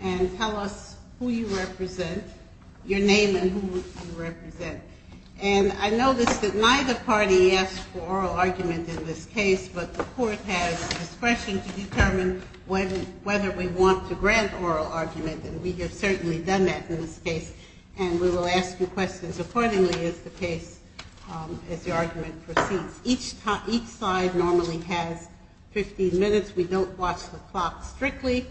and tell us who you represent, your name and who you represent. And I noticed that neither party asked for oral argument in this case, but the Court has discretion to determine whether we want to grant oral argument, and we have certainly done that in this case. And we will ask you questions accordingly as the case, as the argument proceeds. Each side normally has 15 minutes. We don't watch the clock strictly.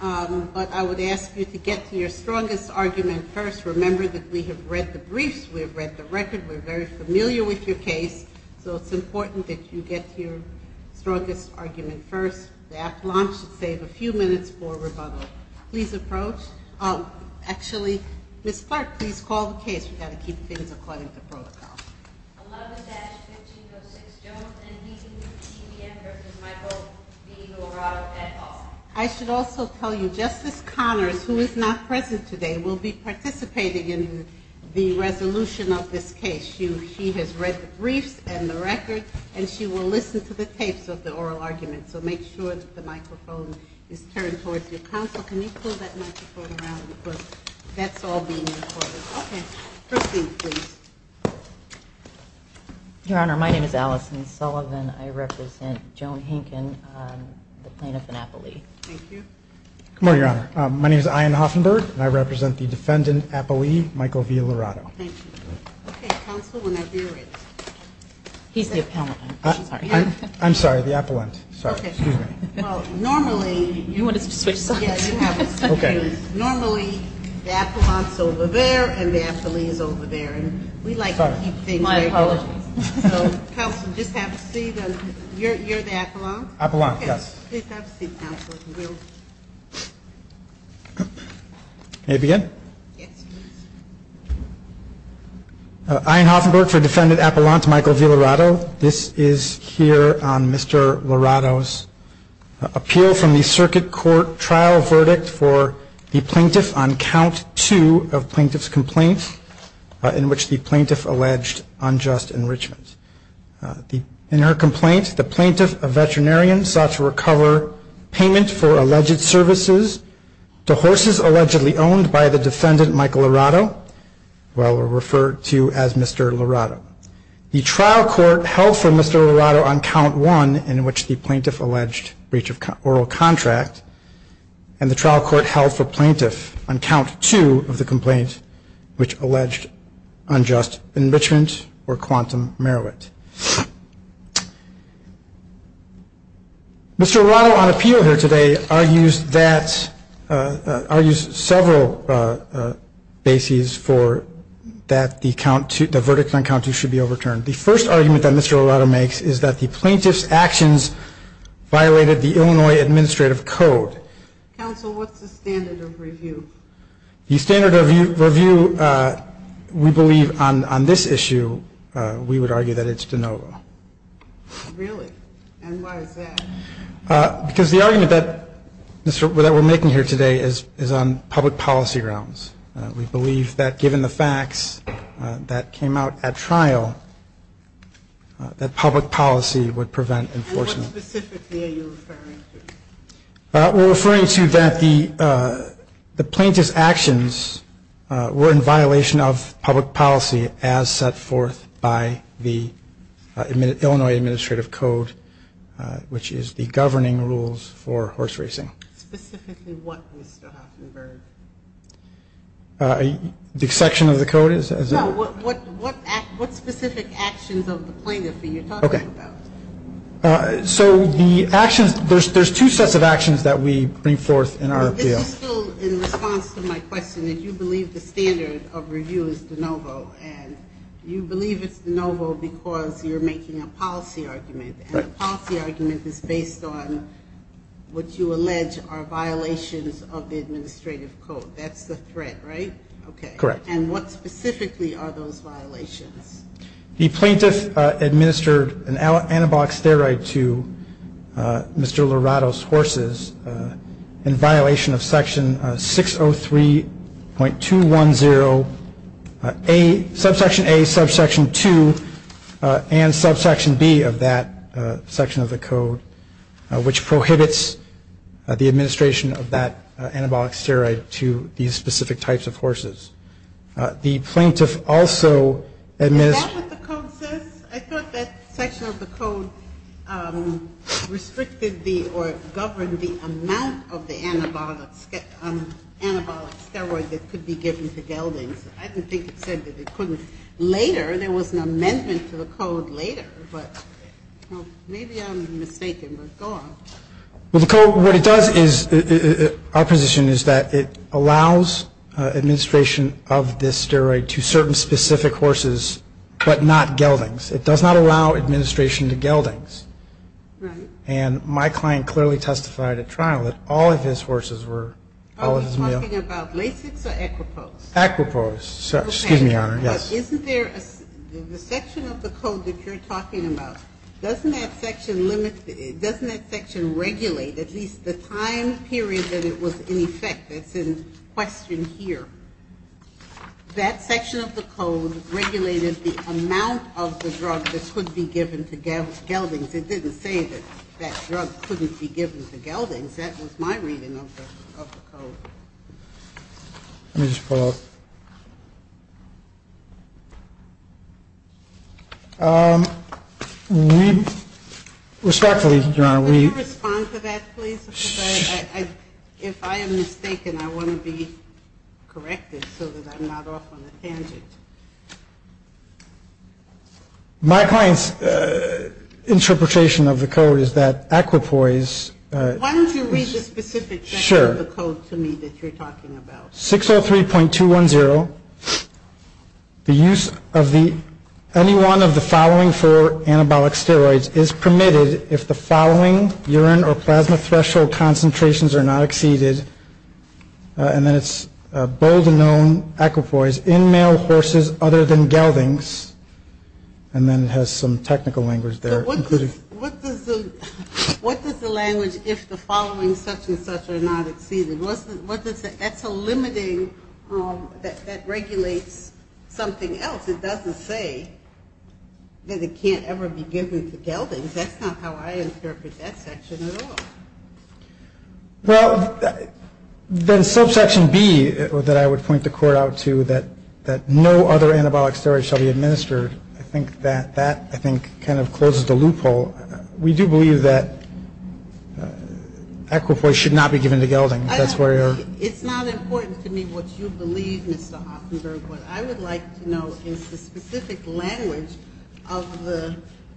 But I would ask you to get to your strongest argument first. Remember that we have read the briefs. We have read the record. We're very familiar with your case. So it's important that you get to your strongest argument first. After lunch, save a few minutes for rebuttal. Please approach. Actually, Ms. Clark, please call the case. We've got to keep things according to protocol. 11-1506 Jones and he, he, he, and her, Mr. Michael v. Laurato at all. I should also tell you Justice Connors, who is not present today, will be participating in the resolution of this case. She has read the briefs and the record, and she will listen to the tapes of the oral argument. So make sure that the microphone is turned towards your counsel. Can you pull that microphone around? Because that's all being recorded. Okay. First thing, please. Your Honor, my name is Allison Sullivan. I represent Joan Hinken, the plaintiff in Appalachia. Thank you. Good morning, Your Honor. My name is Ian Hoffenberg, and I represent the defendant, Appalachia, Michael v. Laurato. Thank you. Okay, counsel, whenever you're ready. He's the appellant. I'm sorry. I'm sorry, the appellant. Sorry. Okay. Well, normally, you want to switch sides? Yeah, you have it. Okay. Normally, the appellant is over there and the appellee is over there, and we like to keep things very close. My apologies. So, counsel, just have a seat. You're the appellant? Appellant, yes. Please have a seat, counsel. May I begin? Yes, please. Ian Hoffenberg for defendant Appalachia, Michael v. Laurato. This is here on Mr. Laurato's appeal from the circuit court trial verdict for the plaintiff on count two of plaintiff's complaint in which the plaintiff alleged unjust enrichment. In her complaint, the plaintiff, a veterinarian, sought to recover payment for alleged services to horses allegedly owned by the defendant, Michael Laurato, well, referred to as Mr. Laurato. The trial court held for Mr. Laurato on count one, in which the plaintiff alleged breach of oral contract, and the trial court held for plaintiff on count two of the complaint which alleged unjust enrichment or quantum merit. Mr. Laurato, on appeal here today, argues several bases for that the verdict on count two should be overturned. The first argument that Mr. Laurato makes is that the plaintiff's actions violated the Illinois administrative code. Counsel, what's the standard of review? The standard of review, we believe on this issue, we would argue that it's de novo. Really? And why is that? Because the argument that we're making here today is on public policy grounds. We believe that given the facts that came out at trial, that public policy would prevent enforcement. What specifically are you referring to? We're referring to that the plaintiff's actions were in violation of public policy as set forth by the Illinois administrative code, which is the governing rules for horse racing. Specifically what, Mr. Huffenberg? The section of the code is? No, what specific actions of the plaintiff are you talking about? So the actions, there's two sets of actions that we bring forth in our appeal. In response to my question, you believe the standard of review is de novo, and you believe it's de novo because you're making a policy argument, and the policy argument is based on what you allege are violations of the administrative code. That's the threat, right? Correct. And what specifically are those violations? The plaintiff administered an anabolic steroid to Mr. Lorado's horses in violation of section 603.210, subsection A, subsection 2, and subsection B of that section of the code, which prohibits the administration of that anabolic steroid to these specific types of horses. The plaintiff also administered? Is that what the code says? I thought that section of the code restricted the or governed the amount of the anabolic steroid that could be given to geldings. I didn't think it said that it couldn't later. There was an amendment to the code later, but maybe I'm mistaken. But go on. Well, the code, what it does is, our position is that it allows administration of this steroid to certain specific horses, but not geldings. It does not allow administration to geldings. Right. And my client clearly testified at trial that all of his horses were, all of his males. Are we talking about Lasix or Equipose? Equipose. Okay. Excuse me, Your Honor, yes. But isn't there a section of the code that you're talking about, doesn't that section limit, doesn't that section regulate at least the time period that it was in effect? That's in question here. That section of the code regulated the amount of the drug that could be given to geldings. It didn't say that that drug couldn't be given to geldings. That was my reading of the code. Let me just pull up. We, respectfully, Your Honor, we. Could you respond to that, please? Because I, if I am mistaken, I want to be corrected so that I'm not off on a tangent. My client's interpretation of the code is that Equipose. Why don't you read the specific section of the code to me that you're talking about? Sure. 603.210. The use of the, any one of the following four anabolic steroids is permitted if the following urine or plasma threshold concentrations are not exceeded. And then it's bold and known, Equipose, in male horses other than geldings. And then it has some technical language there. What does the, what does the language if the following such and such are not exceeded? That's a limiting, that regulates something else. It doesn't say that it can't ever be given to geldings. That's not how I interpret that section at all. Well, then subsection B that I would point the Court out to, that no other anabolic steroids shall be administered, I think that that, I think, kind of closes the loophole. So we do believe that Equipose should not be given to geldings. That's where you're. It's not important to me what you believe, Mr. Hoffenberg. What I would like to know is the specific language of the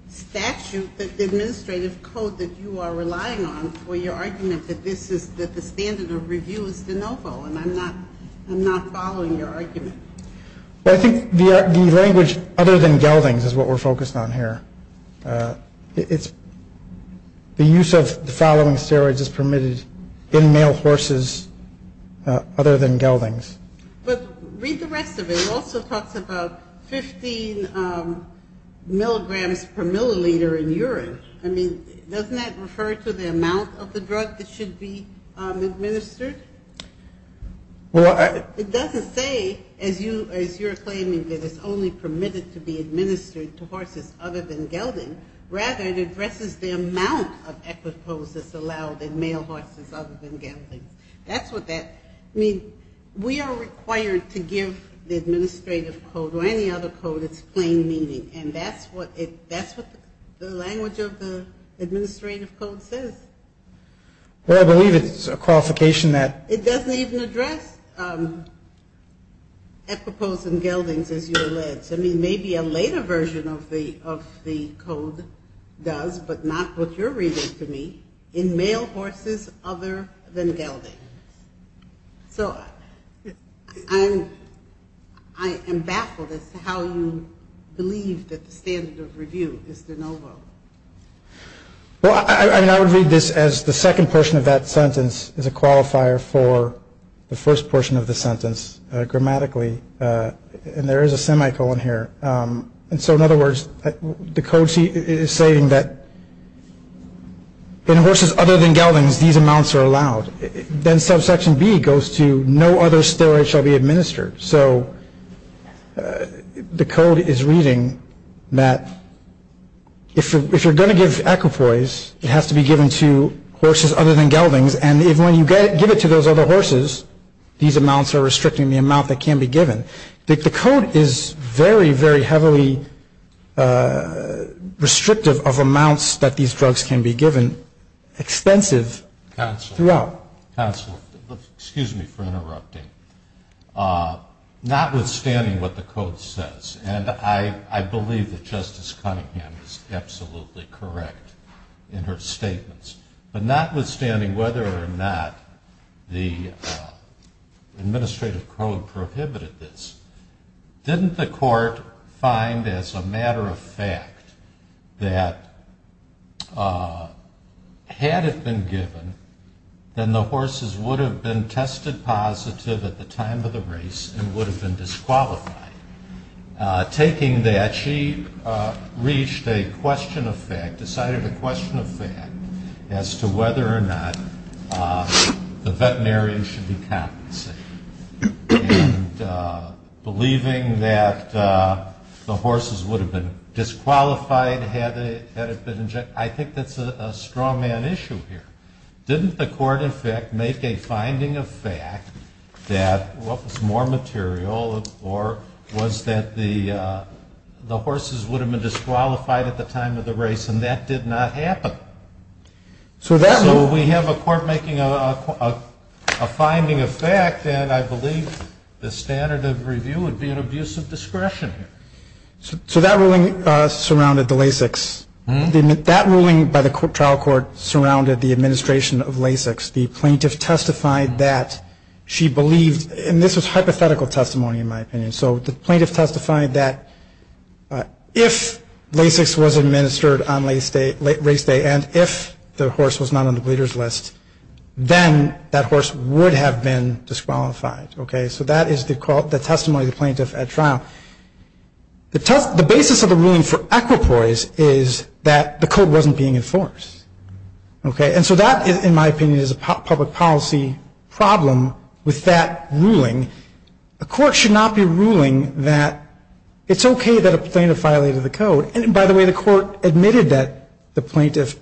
statute, the administrative code that you are relying on for your argument that this is, that the standard of review is de novo, and I'm not following your argument. I think the language other than geldings is what we're focused on here. It's the use of the following steroids is permitted in male horses other than geldings. But read the rest of it. It also talks about 15 milligrams per milliliter in urine. I mean, doesn't that refer to the amount of the drug that should be administered? Well, I. It doesn't say, as you're claiming, that it's only permitted to be administered to horses other than gelding. Rather, it addresses the amount of Equipose that's allowed in male horses other than geldings. That's what that. I mean, we are required to give the administrative code or any other code its plain meaning, and that's what the language of the administrative code says. Well, I believe it's a qualification that. It doesn't even address Equipose and geldings, as you allege. I mean, maybe a later version of the code does, but not what you're reading to me, in male horses other than geldings. So I am baffled as to how you believe that the standard of review is de novo. Well, I would read this as the second portion of that sentence is a qualifier for the first portion of the sentence grammatically. And there is a semicolon here. And so, in other words, the code is saying that in horses other than geldings, these amounts are allowed. Then subsection B goes to no other steroids shall be administered. So the code is reading that if you're going to give Equipose, it has to be given to horses other than geldings. And when you give it to those other horses, these amounts are restricting the amount that can be given. The code is very, very heavily restrictive of amounts that these drugs can be given, extensive throughout. Counsel, excuse me for interrupting. Notwithstanding what the code says, and I believe that Justice Cunningham is absolutely correct in her statements, but notwithstanding whether or not the administrative code prohibited this, didn't the court find as a matter of fact that had it been given, then the horses would have been tested positive at the time of the race and would have been disqualified. Taking that, she reached a question of fact, decided a question of fact, as to whether or not the veterinarian should be compensated. And believing that the horses would have been disqualified had it been injected. I think that's a strawman issue here. Didn't the court, in fact, make a finding of fact that what was more material or was that the horses would have been disqualified at the time of the race, and that did not happen? So we have a court making a finding of fact, and I believe the standard of review would be an abuse of discretion here. So that ruling surrounded the LASIKs. That ruling by the trial court surrounded the administration of LASIKs. The plaintiff testified that she believed, and this was hypothetical testimony in my opinion, so the plaintiff testified that if LASIKs was administered on race day and if the horse was not on the bleeder's list, then that horse would have been disqualified. So that is the testimony of the plaintiff at trial. The basis of the ruling for equipoise is that the code wasn't being enforced. And so that, in my opinion, is a public policy problem with that ruling. A court should not be ruling that it's okay that a plaintiff violated the code. And, by the way, the court admitted that the plaintiff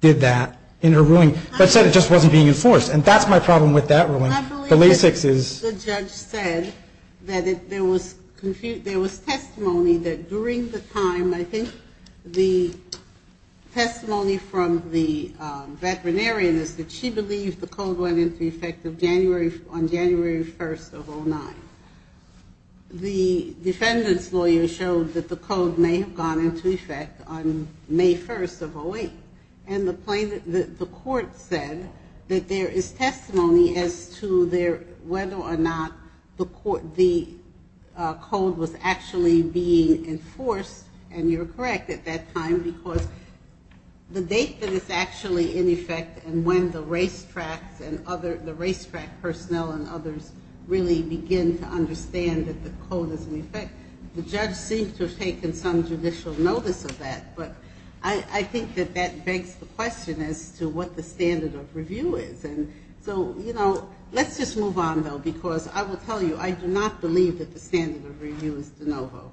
did that in her ruling, but said it just wasn't being enforced. And that's my problem with that ruling. The LASIKs is ‑‑ I believe that the judge said that there was testimony that during the time, I think the testimony from the veterinarian is that she believed the code went into effect on January 1st of 09. The defendant's lawyer showed that the code may have gone into effect on May 1st of 08. And the court said that there is testimony as to whether or not the code was actually being enforced. And you're correct at that time because the date that it's actually in effect and when the racetrack personnel and others really begin to understand that the code is in effect, the judge seemed to have taken some judicial notice of that. But I think that that begs the question as to what the standard of review is. And so, you know, let's just move on, though, because I will tell you I do not believe that the standard of review is de novo.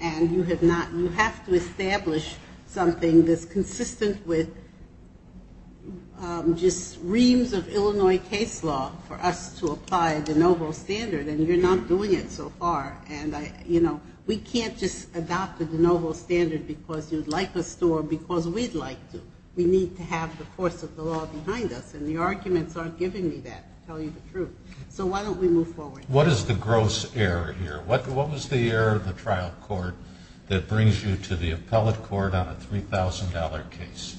And you have to establish something that's consistent with just reams of Illinois case law for us to apply the de novo standard. And you're not doing it so far. And, you know, we can't just adopt the de novo standard because you'd like us to or because we'd like to. We need to have the course of the law behind us. And the arguments aren't giving me that to tell you the truth. So why don't we move forward? What is the gross error here? What was the error of the trial court that brings you to the appellate court on a $3,000 case?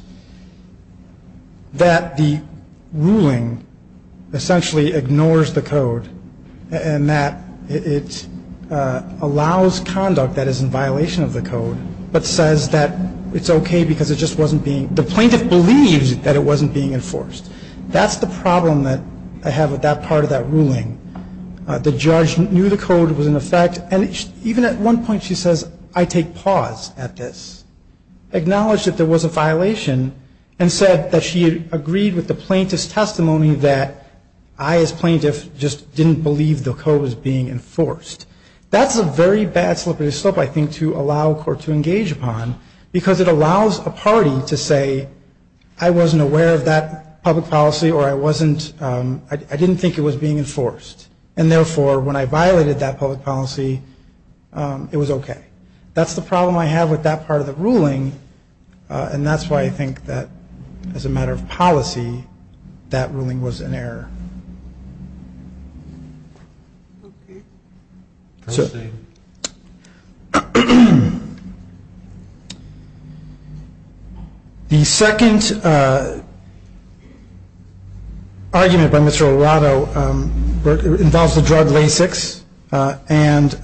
That the ruling essentially ignores the code and that it allows conduct that is in violation of the code but says that it's okay because it just wasn't being, the plaintiff believes that it wasn't being enforced. That's the problem that I have with that part of that ruling. The judge knew the code was in effect. And even at one point she says, I take pause at this. Acknowledged that there was a violation and said that she agreed with the plaintiff's testimony that I as plaintiff just didn't believe the code was being enforced. That's a very bad slip of the slip, I think, to allow a court to engage upon because it allows a party to say, I wasn't aware of that public policy or I wasn't, I didn't think it was being enforced. And therefore, when I violated that public policy, it was okay. That's the problem I have with that part of the ruling and that's why I think that as a matter of policy, that ruling was an error. The second argument by Mr. Lorado involves the drug Lasix. And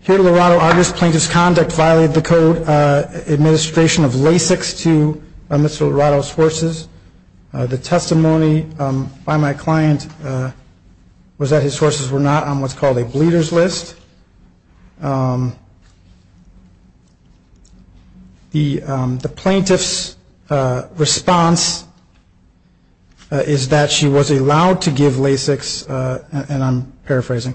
here to Lorado, our misplaintiff's conduct violated the code administration of Lasix The testimony by my client was that his sources were not on what's called a bleeder's list. The plaintiff's response is that she was allowed to give Lasix, and I'm paraphrasing,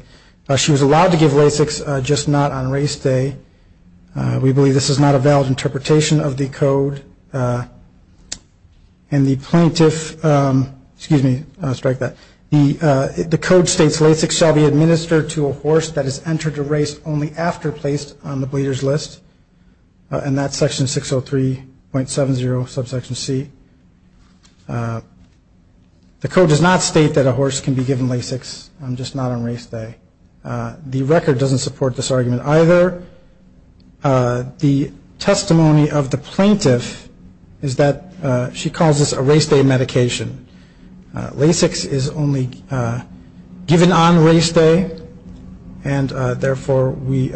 she was allowed to give Lasix, just not on race day. We believe this is not a valid interpretation of the code. And the plaintiff, excuse me, I'll strike that. The code states Lasix shall be administered to a horse that has entered a race only after placed on the bleeder's list. And that's section 603.70, subsection C. The code does not state that a horse can be given Lasix, just not on race day. The record doesn't support this argument either. The testimony of the plaintiff is that she calls this a race day medication. Lasix is only given on race day, and therefore we,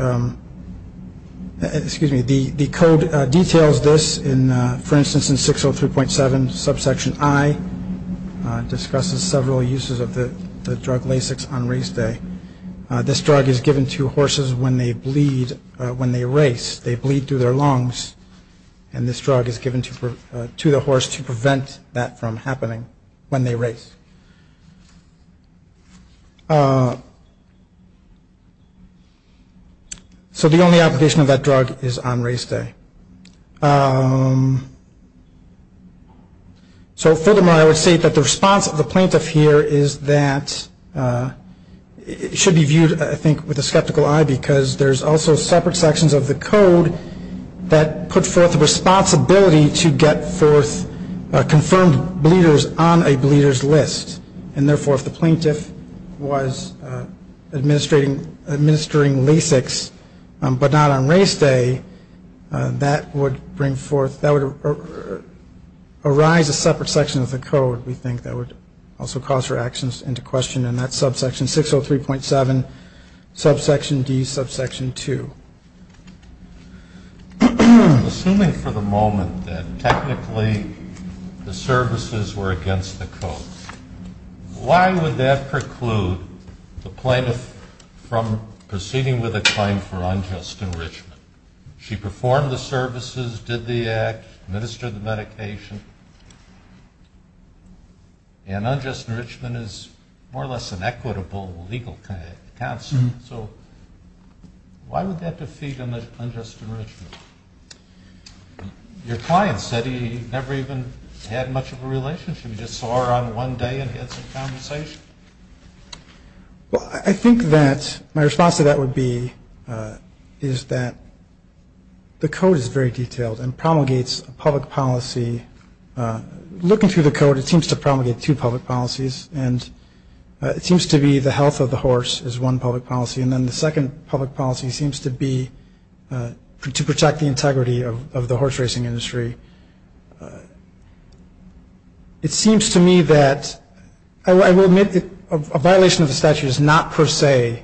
excuse me, the code details this in, for instance, in 603.70, subsection I, discusses several uses of the drug Lasix on race day. This drug is given to horses when they bleed, when they race, they bleed through their lungs, and this drug is given to the horse to prevent that from happening when they race. So the only application of that drug is on race day. So furthermore, I would say that the response of the plaintiff here is that it should be viewed, I think, with a skeptical eye because there's also separate sections of the code that put forth the responsibility to get forth confirmed bleeders on a bleeder's list. And therefore, if the plaintiff was administering Lasix but not on race day, that would bring forth, that would arise a separate section of the code, we think, that would also cause her actions into question, and that's subsection 603.70, subsection D, subsection II. Assuming for the moment that technically the services were against the code, why would that preclude the plaintiff from proceeding with a claim for unjust enrichment? She performed the services, did the act, administered the medication, and unjust enrichment is more or less an equitable legal counsel. So why would that defeat unjust enrichment? Your client said he never even had much of a relationship. He just saw her on one day and had some conversation. Well, I think that my response to that would be is that the code is very detailed and promulgates a public policy. Looking through the code, it seems to promulgate two public policies, and it seems to be the health of the horse is one public policy, and then the second public policy seems to be to protect the integrity of the horse racing industry. It seems to me that I will admit that a violation of the statute is not per se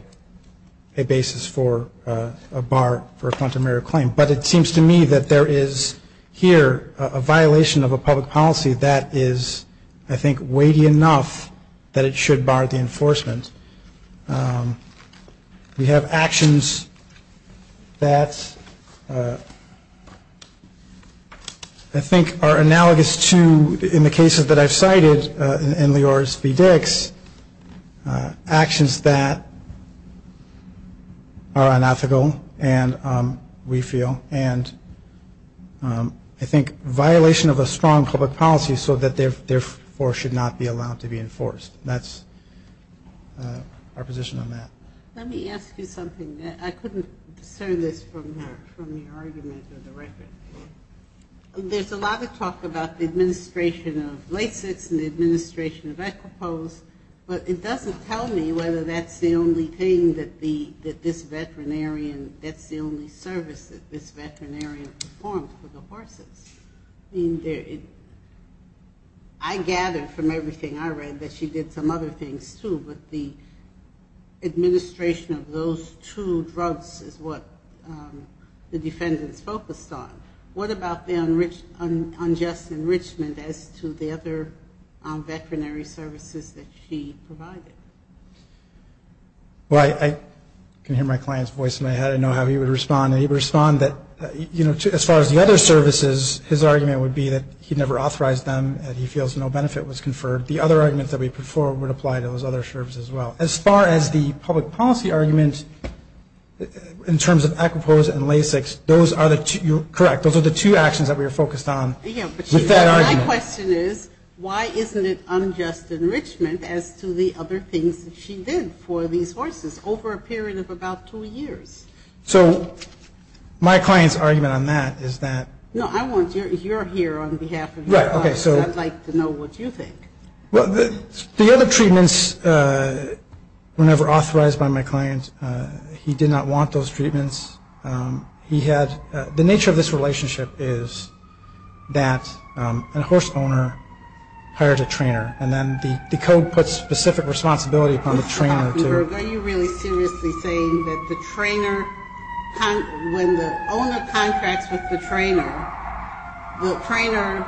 a basis for a bar for a plenary claim, but it seems to me that there is here a violation of a public policy that is, I think, weighty enough that it should bar the enforcement. We have actions that I think are analogous to, in the cases that I've cited in Lior's v. Dix, actions that are unethical, and we feel, and I think violation of a strong public policy so that therefore should not be allowed to be enforced. That's our position on that. Let me ask you something. I couldn't discern this from the argument of the record. There's a lot of talk about the administration of Lasix and the administration of Equipose, but it doesn't tell me whether that's the only thing that this veterinarian, that's the only service that this veterinarian performed for the horses. I gathered from everything I read that she did some other things, too, but the administration of those two drugs is what the defendants focused on. What about the unjust enrichment as to the other veterinary services that she provided? Well, I can hear my client's voice in my head. I know how he would respond, and he would respond that, you know, as far as the other services, his argument would be that he never authorized them and he feels no benefit was conferred. The other arguments that we put forward would apply to those other services as well. As far as the public policy argument in terms of Equipose and Lasix, those are the two, you're correct, things that she did for these horses over a period of about two years. So my client's argument on that is that... No, I want your, you're here on behalf of your client, so I'd like to know what you think. Well, the other treatments were never authorized by my client. He did not want those treatments. He had, the nature of this relationship is that a horse owner hired a trainer, and then the code puts specific responsibility upon the trainer to... Are you really seriously saying that the trainer, when the owner contracts with the trainer, the trainer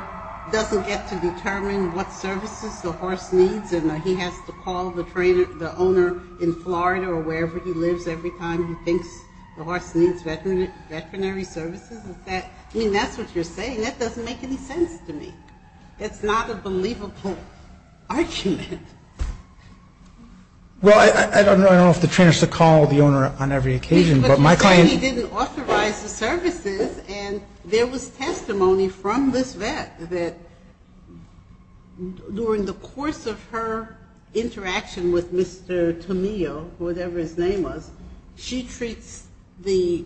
doesn't get to determine what services the horse needs and he has to call the trainer, the owner in Florida or wherever he lives every time he thinks the horse needs veterinary services? Is that, I mean, that's what you're saying. That doesn't make any sense to me. That's not a believable argument. Well, I don't know if the trainer should call the owner on every occasion, but my client... But you said he didn't authorize the services, and there was testimony from this vet that during the course of her interaction with Mr. Tamillo, whatever his name was, she treats the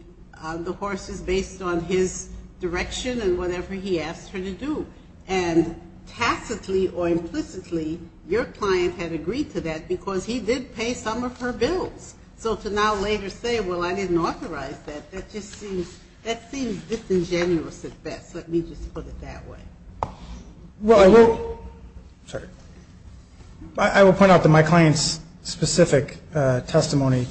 horses based on his direction and whatever he asks her to do. And tacitly or implicitly, your client had agreed to that because he did pay some of her bills. So to now later say, well, I didn't authorize that, that just seems disingenuous at best. Let me just put it that way. Well, I will point out that my client's specific testimony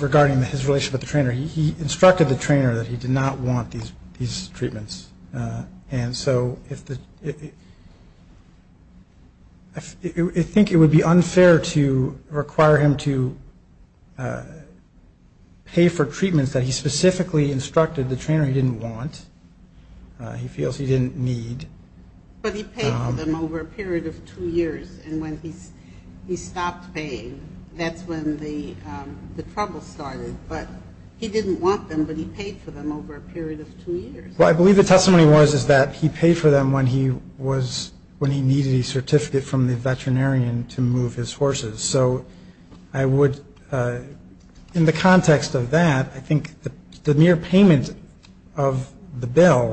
regarding his relationship with the trainer, he instructed the trainer that he did not want these treatments. And so I think it would be unfair to require him to pay for treatments that he specifically instructed the trainer he didn't want, he feels he didn't need. But he paid for them over a period of two years. And when he stopped paying, that's when the trouble started. But he didn't want them, but he paid for them over a period of two years. Well, I believe the testimony was is that he paid for them when he was, when he needed a certificate from the veterinarian to move his horses. So I would, in the context of that, I think the mere payment of the bill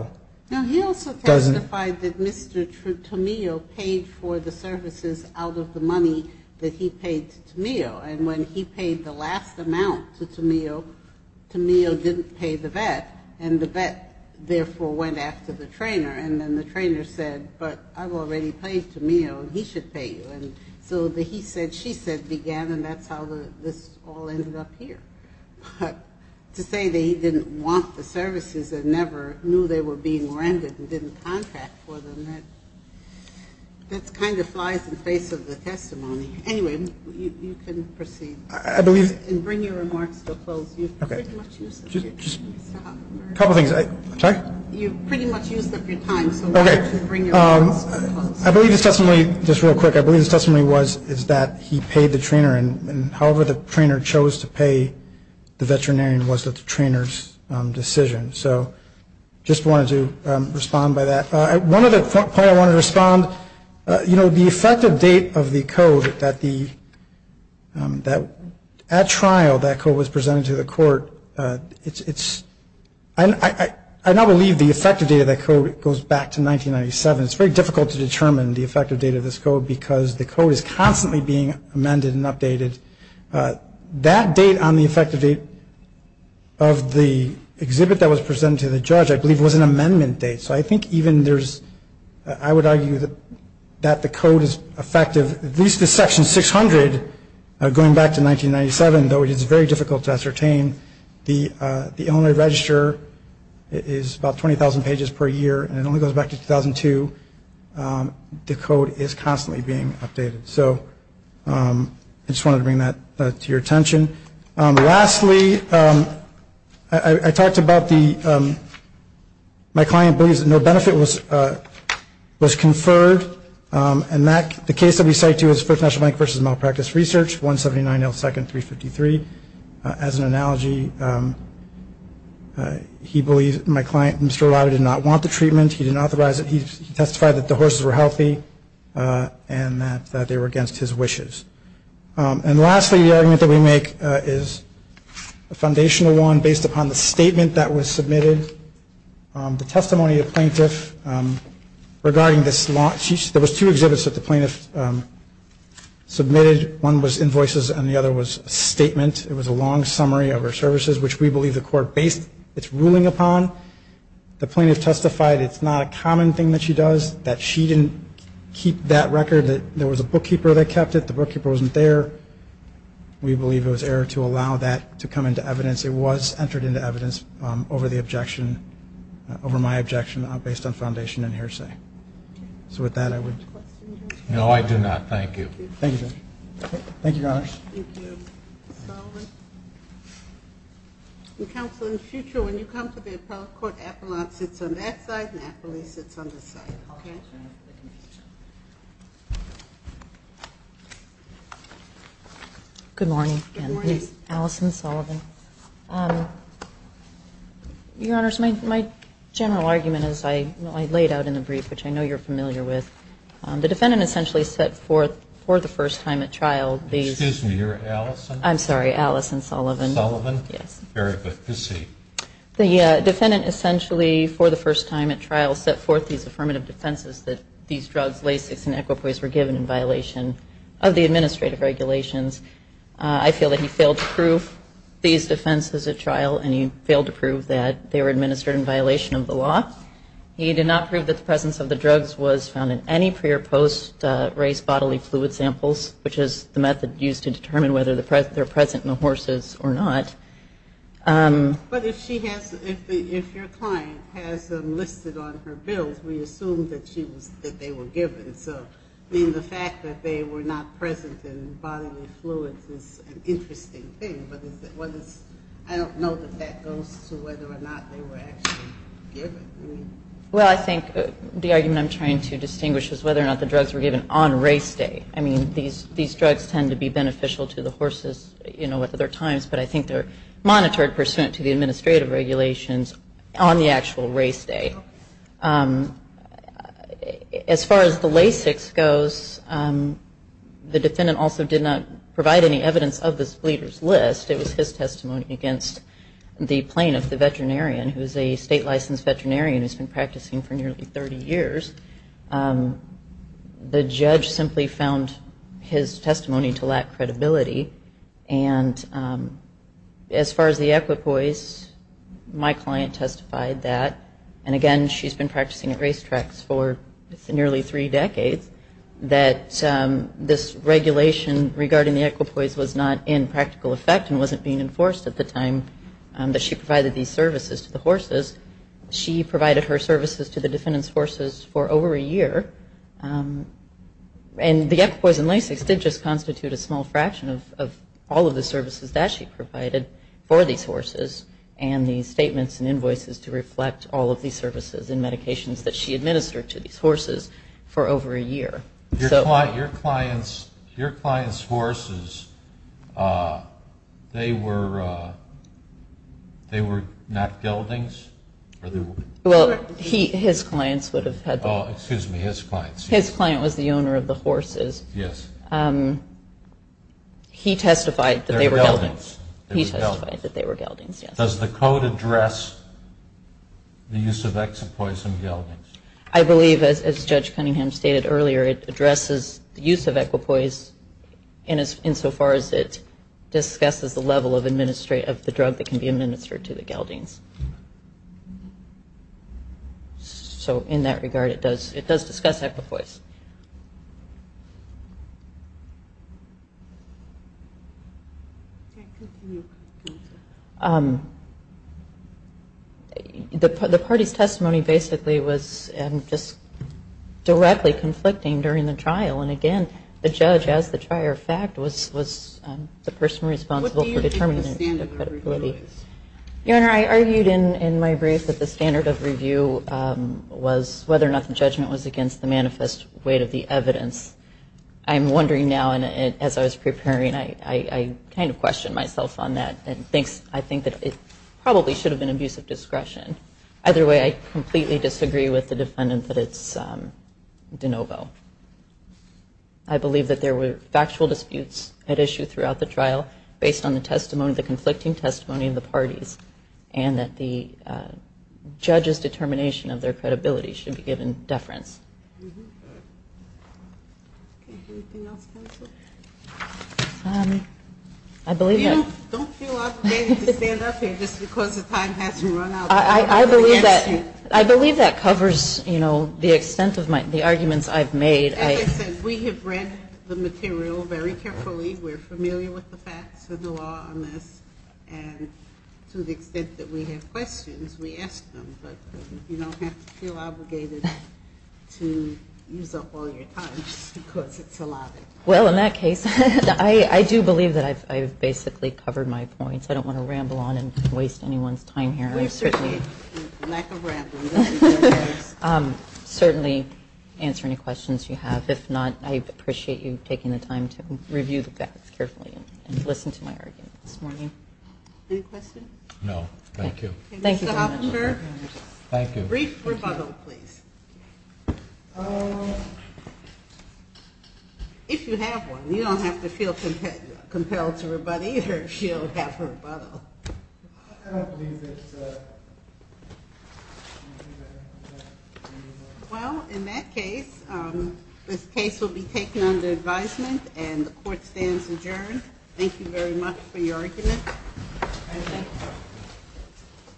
doesn't. Now, he also testified that Mr. Tamillo paid for the services out of the money that he paid to Tamillo. And when he paid the last amount to Tamillo, Tamillo didn't pay the vet. And the vet, therefore, went after the trainer. And then the trainer said, but I've already paid Tamillo, and he should pay you. And so the he said, she said began, and that's how this all ended up here. But to say that he didn't want the services and never knew they were being rented and didn't contract for them, that kind of flies in the face of the testimony. Anyway, you can proceed. I believe. And bring your remarks to a close. Okay. Just a couple things. Sorry? You pretty much used up your time, so why don't you bring your remarks to a close. Okay. I believe the testimony, just real quick, I believe the testimony was is that he paid the trainer, and however the trainer chose to pay the veterinarian was the trainer's decision. So just wanted to respond by that. One other point I wanted to respond, you know, the effective date of the code that the, that at trial that code was presented to the court. It's, I now believe the effective date of that code goes back to 1997. It's very difficult to determine the effective date of this code because the code is constantly being amended and updated. That date on the effective date of the exhibit that was presented to the judge I believe was an amendment date. So I think even there's, I would argue that the code is effective, at least the section 600, going back to 1997, though it is very difficult to ascertain, the Illinois Register is about 20,000 pages per year, and it only goes back to 2002. The code is constantly being updated. So I just wanted to bring that to your attention. Lastly, I talked about the, my client believes that no benefit was conferred, and that the case that we cite to is First National Bank versus Malpractice Research, 179 L. Second, 353. As an analogy, he believes, my client, Mr. O'Leary did not want the treatment. He didn't authorize it. He testified that the horses were healthy and that they were against his wishes. And lastly, the argument that we make is a foundational one based upon the statement that was submitted. The testimony of plaintiff regarding this law, there was two exhibits that the plaintiff submitted. One was invoices and the other was a statement. It was a long summary of her services, which we believe the court based its ruling upon. The plaintiff testified it's not a common thing that she does, that she didn't keep that record, that there was a bookkeeper that kept it, the bookkeeper wasn't there. We believe it was error to allow that to come into evidence. It was entered into evidence over the objection, over my objection based on foundation and hearsay. So with that, I would. No, I do not. Thank you, Judge. Thank you, Your Honor. Counsel, in the future, when you come to the appellate court, Apollon sits on that side and Apollon sits on this side, okay? Good morning. Good morning. Allison Sullivan. Your Honors, my general argument is I laid out in the brief, which I know you're familiar with, the defendant essentially set forth for the first time at trial these. Excuse me. You're Allison? I'm sorry. Allison Sullivan. Sullivan? Yes. Very good. Proceed. The defendant essentially for the first time at trial set forth these affirmative defenses that these drugs, Lasix and equipoise, were given in violation of the administrative regulations. I feel that he failed to prove these defenses at trial, and he failed to prove that they were administered in violation of the law. He did not prove that the presence of the drugs was found in any pre- or post-race bodily fluid samples, which is the method used to determine whether they're present in the horses or not. But if your client has them listed on her bills, we assume that they were given. So the fact that they were not present in bodily fluids is an interesting thing, but I don't know that that goes to whether or not they were actually given. Well, I think the argument I'm trying to distinguish is whether or not the drugs were given on race day. I mean, these drugs tend to be beneficial to the horses, you know, at other times, but I think they're monitored pursuant to the administrative regulations on the actual race day. As far as the Lasix goes, the defendant also did not provide any evidence of this bleeder's list. It was his testimony against the plaintiff, the veterinarian, who is a state-licensed veterinarian who's been practicing for nearly 30 years. The judge simply found his testimony to lack credibility. And as far as the equipoise, my client testified that, and again she's been practicing at racetracks for nearly three decades, that this regulation regarding the equipoise was not in practical effect and wasn't being enforced at the time that she provided these services to the horses. She provided her services to the defendant's horses for over a year, and the equipoise and Lasix did just constitute a small fraction of all of the services that she provided for these horses and the statements and invoices to reflect all of these services and medications that she administered to these horses for over a year. Your client's horses, they were not geldings? Well, his clients would have had them. Oh, excuse me, his clients. His client was the owner of the horses. He testified that they were geldings. They were geldings. He testified that they were geldings, yes. Does the code address the use of equipoise in geldings? I believe, as Judge Cunningham stated earlier, it addresses the use of equipoise insofar as it discusses the level of the drug that can be administered to the geldings. So in that regard, it does discuss equipoise. The party's testimony basically was just directly conflicting during the trial, and again, the judge as the trier of fact was the person responsible for determining What do you take the standard of review as? Your Honor, I argued in my brief that the standard of review was whether or not the judgment was against the manifest weight of the evidence. I'm wondering now, and as I was preparing, I kind of questioned myself on that, and I think that it probably should have been abusive discretion. Either way, I completely disagree with the defendant that it's de novo. I believe that there were factual disputes at issue throughout the trial based on the conflicting testimony of the parties, and that the judge's determination of their credibility should be given deference. Anything else, counsel? I believe that Don't feel obligated to stand up here just because the time hasn't run out. I believe that covers the extent of the arguments I've made. As I said, we have read the material very carefully. We're familiar with the facts of the law on this, and to the extent that we have questions, we ask them. But you don't have to feel obligated to use up all your time just because it's a lot. Well, in that case, I do believe that I've basically covered my points. I don't want to ramble on and waste anyone's time here. We appreciate the lack of rambling. Certainly answer any questions you have. If not, I appreciate you taking the time to review the facts carefully and listen to my argument this morning. Any questions? No, thank you. Mr. Hofinger, a brief rebuttal, please. If you have one. You don't have to feel compelled to rebut either if you don't have a rebuttal. I believe that Well, in that case, this case will be taken under advisement, and the court stands adjourned. Thank you very much for your argument. Thank you.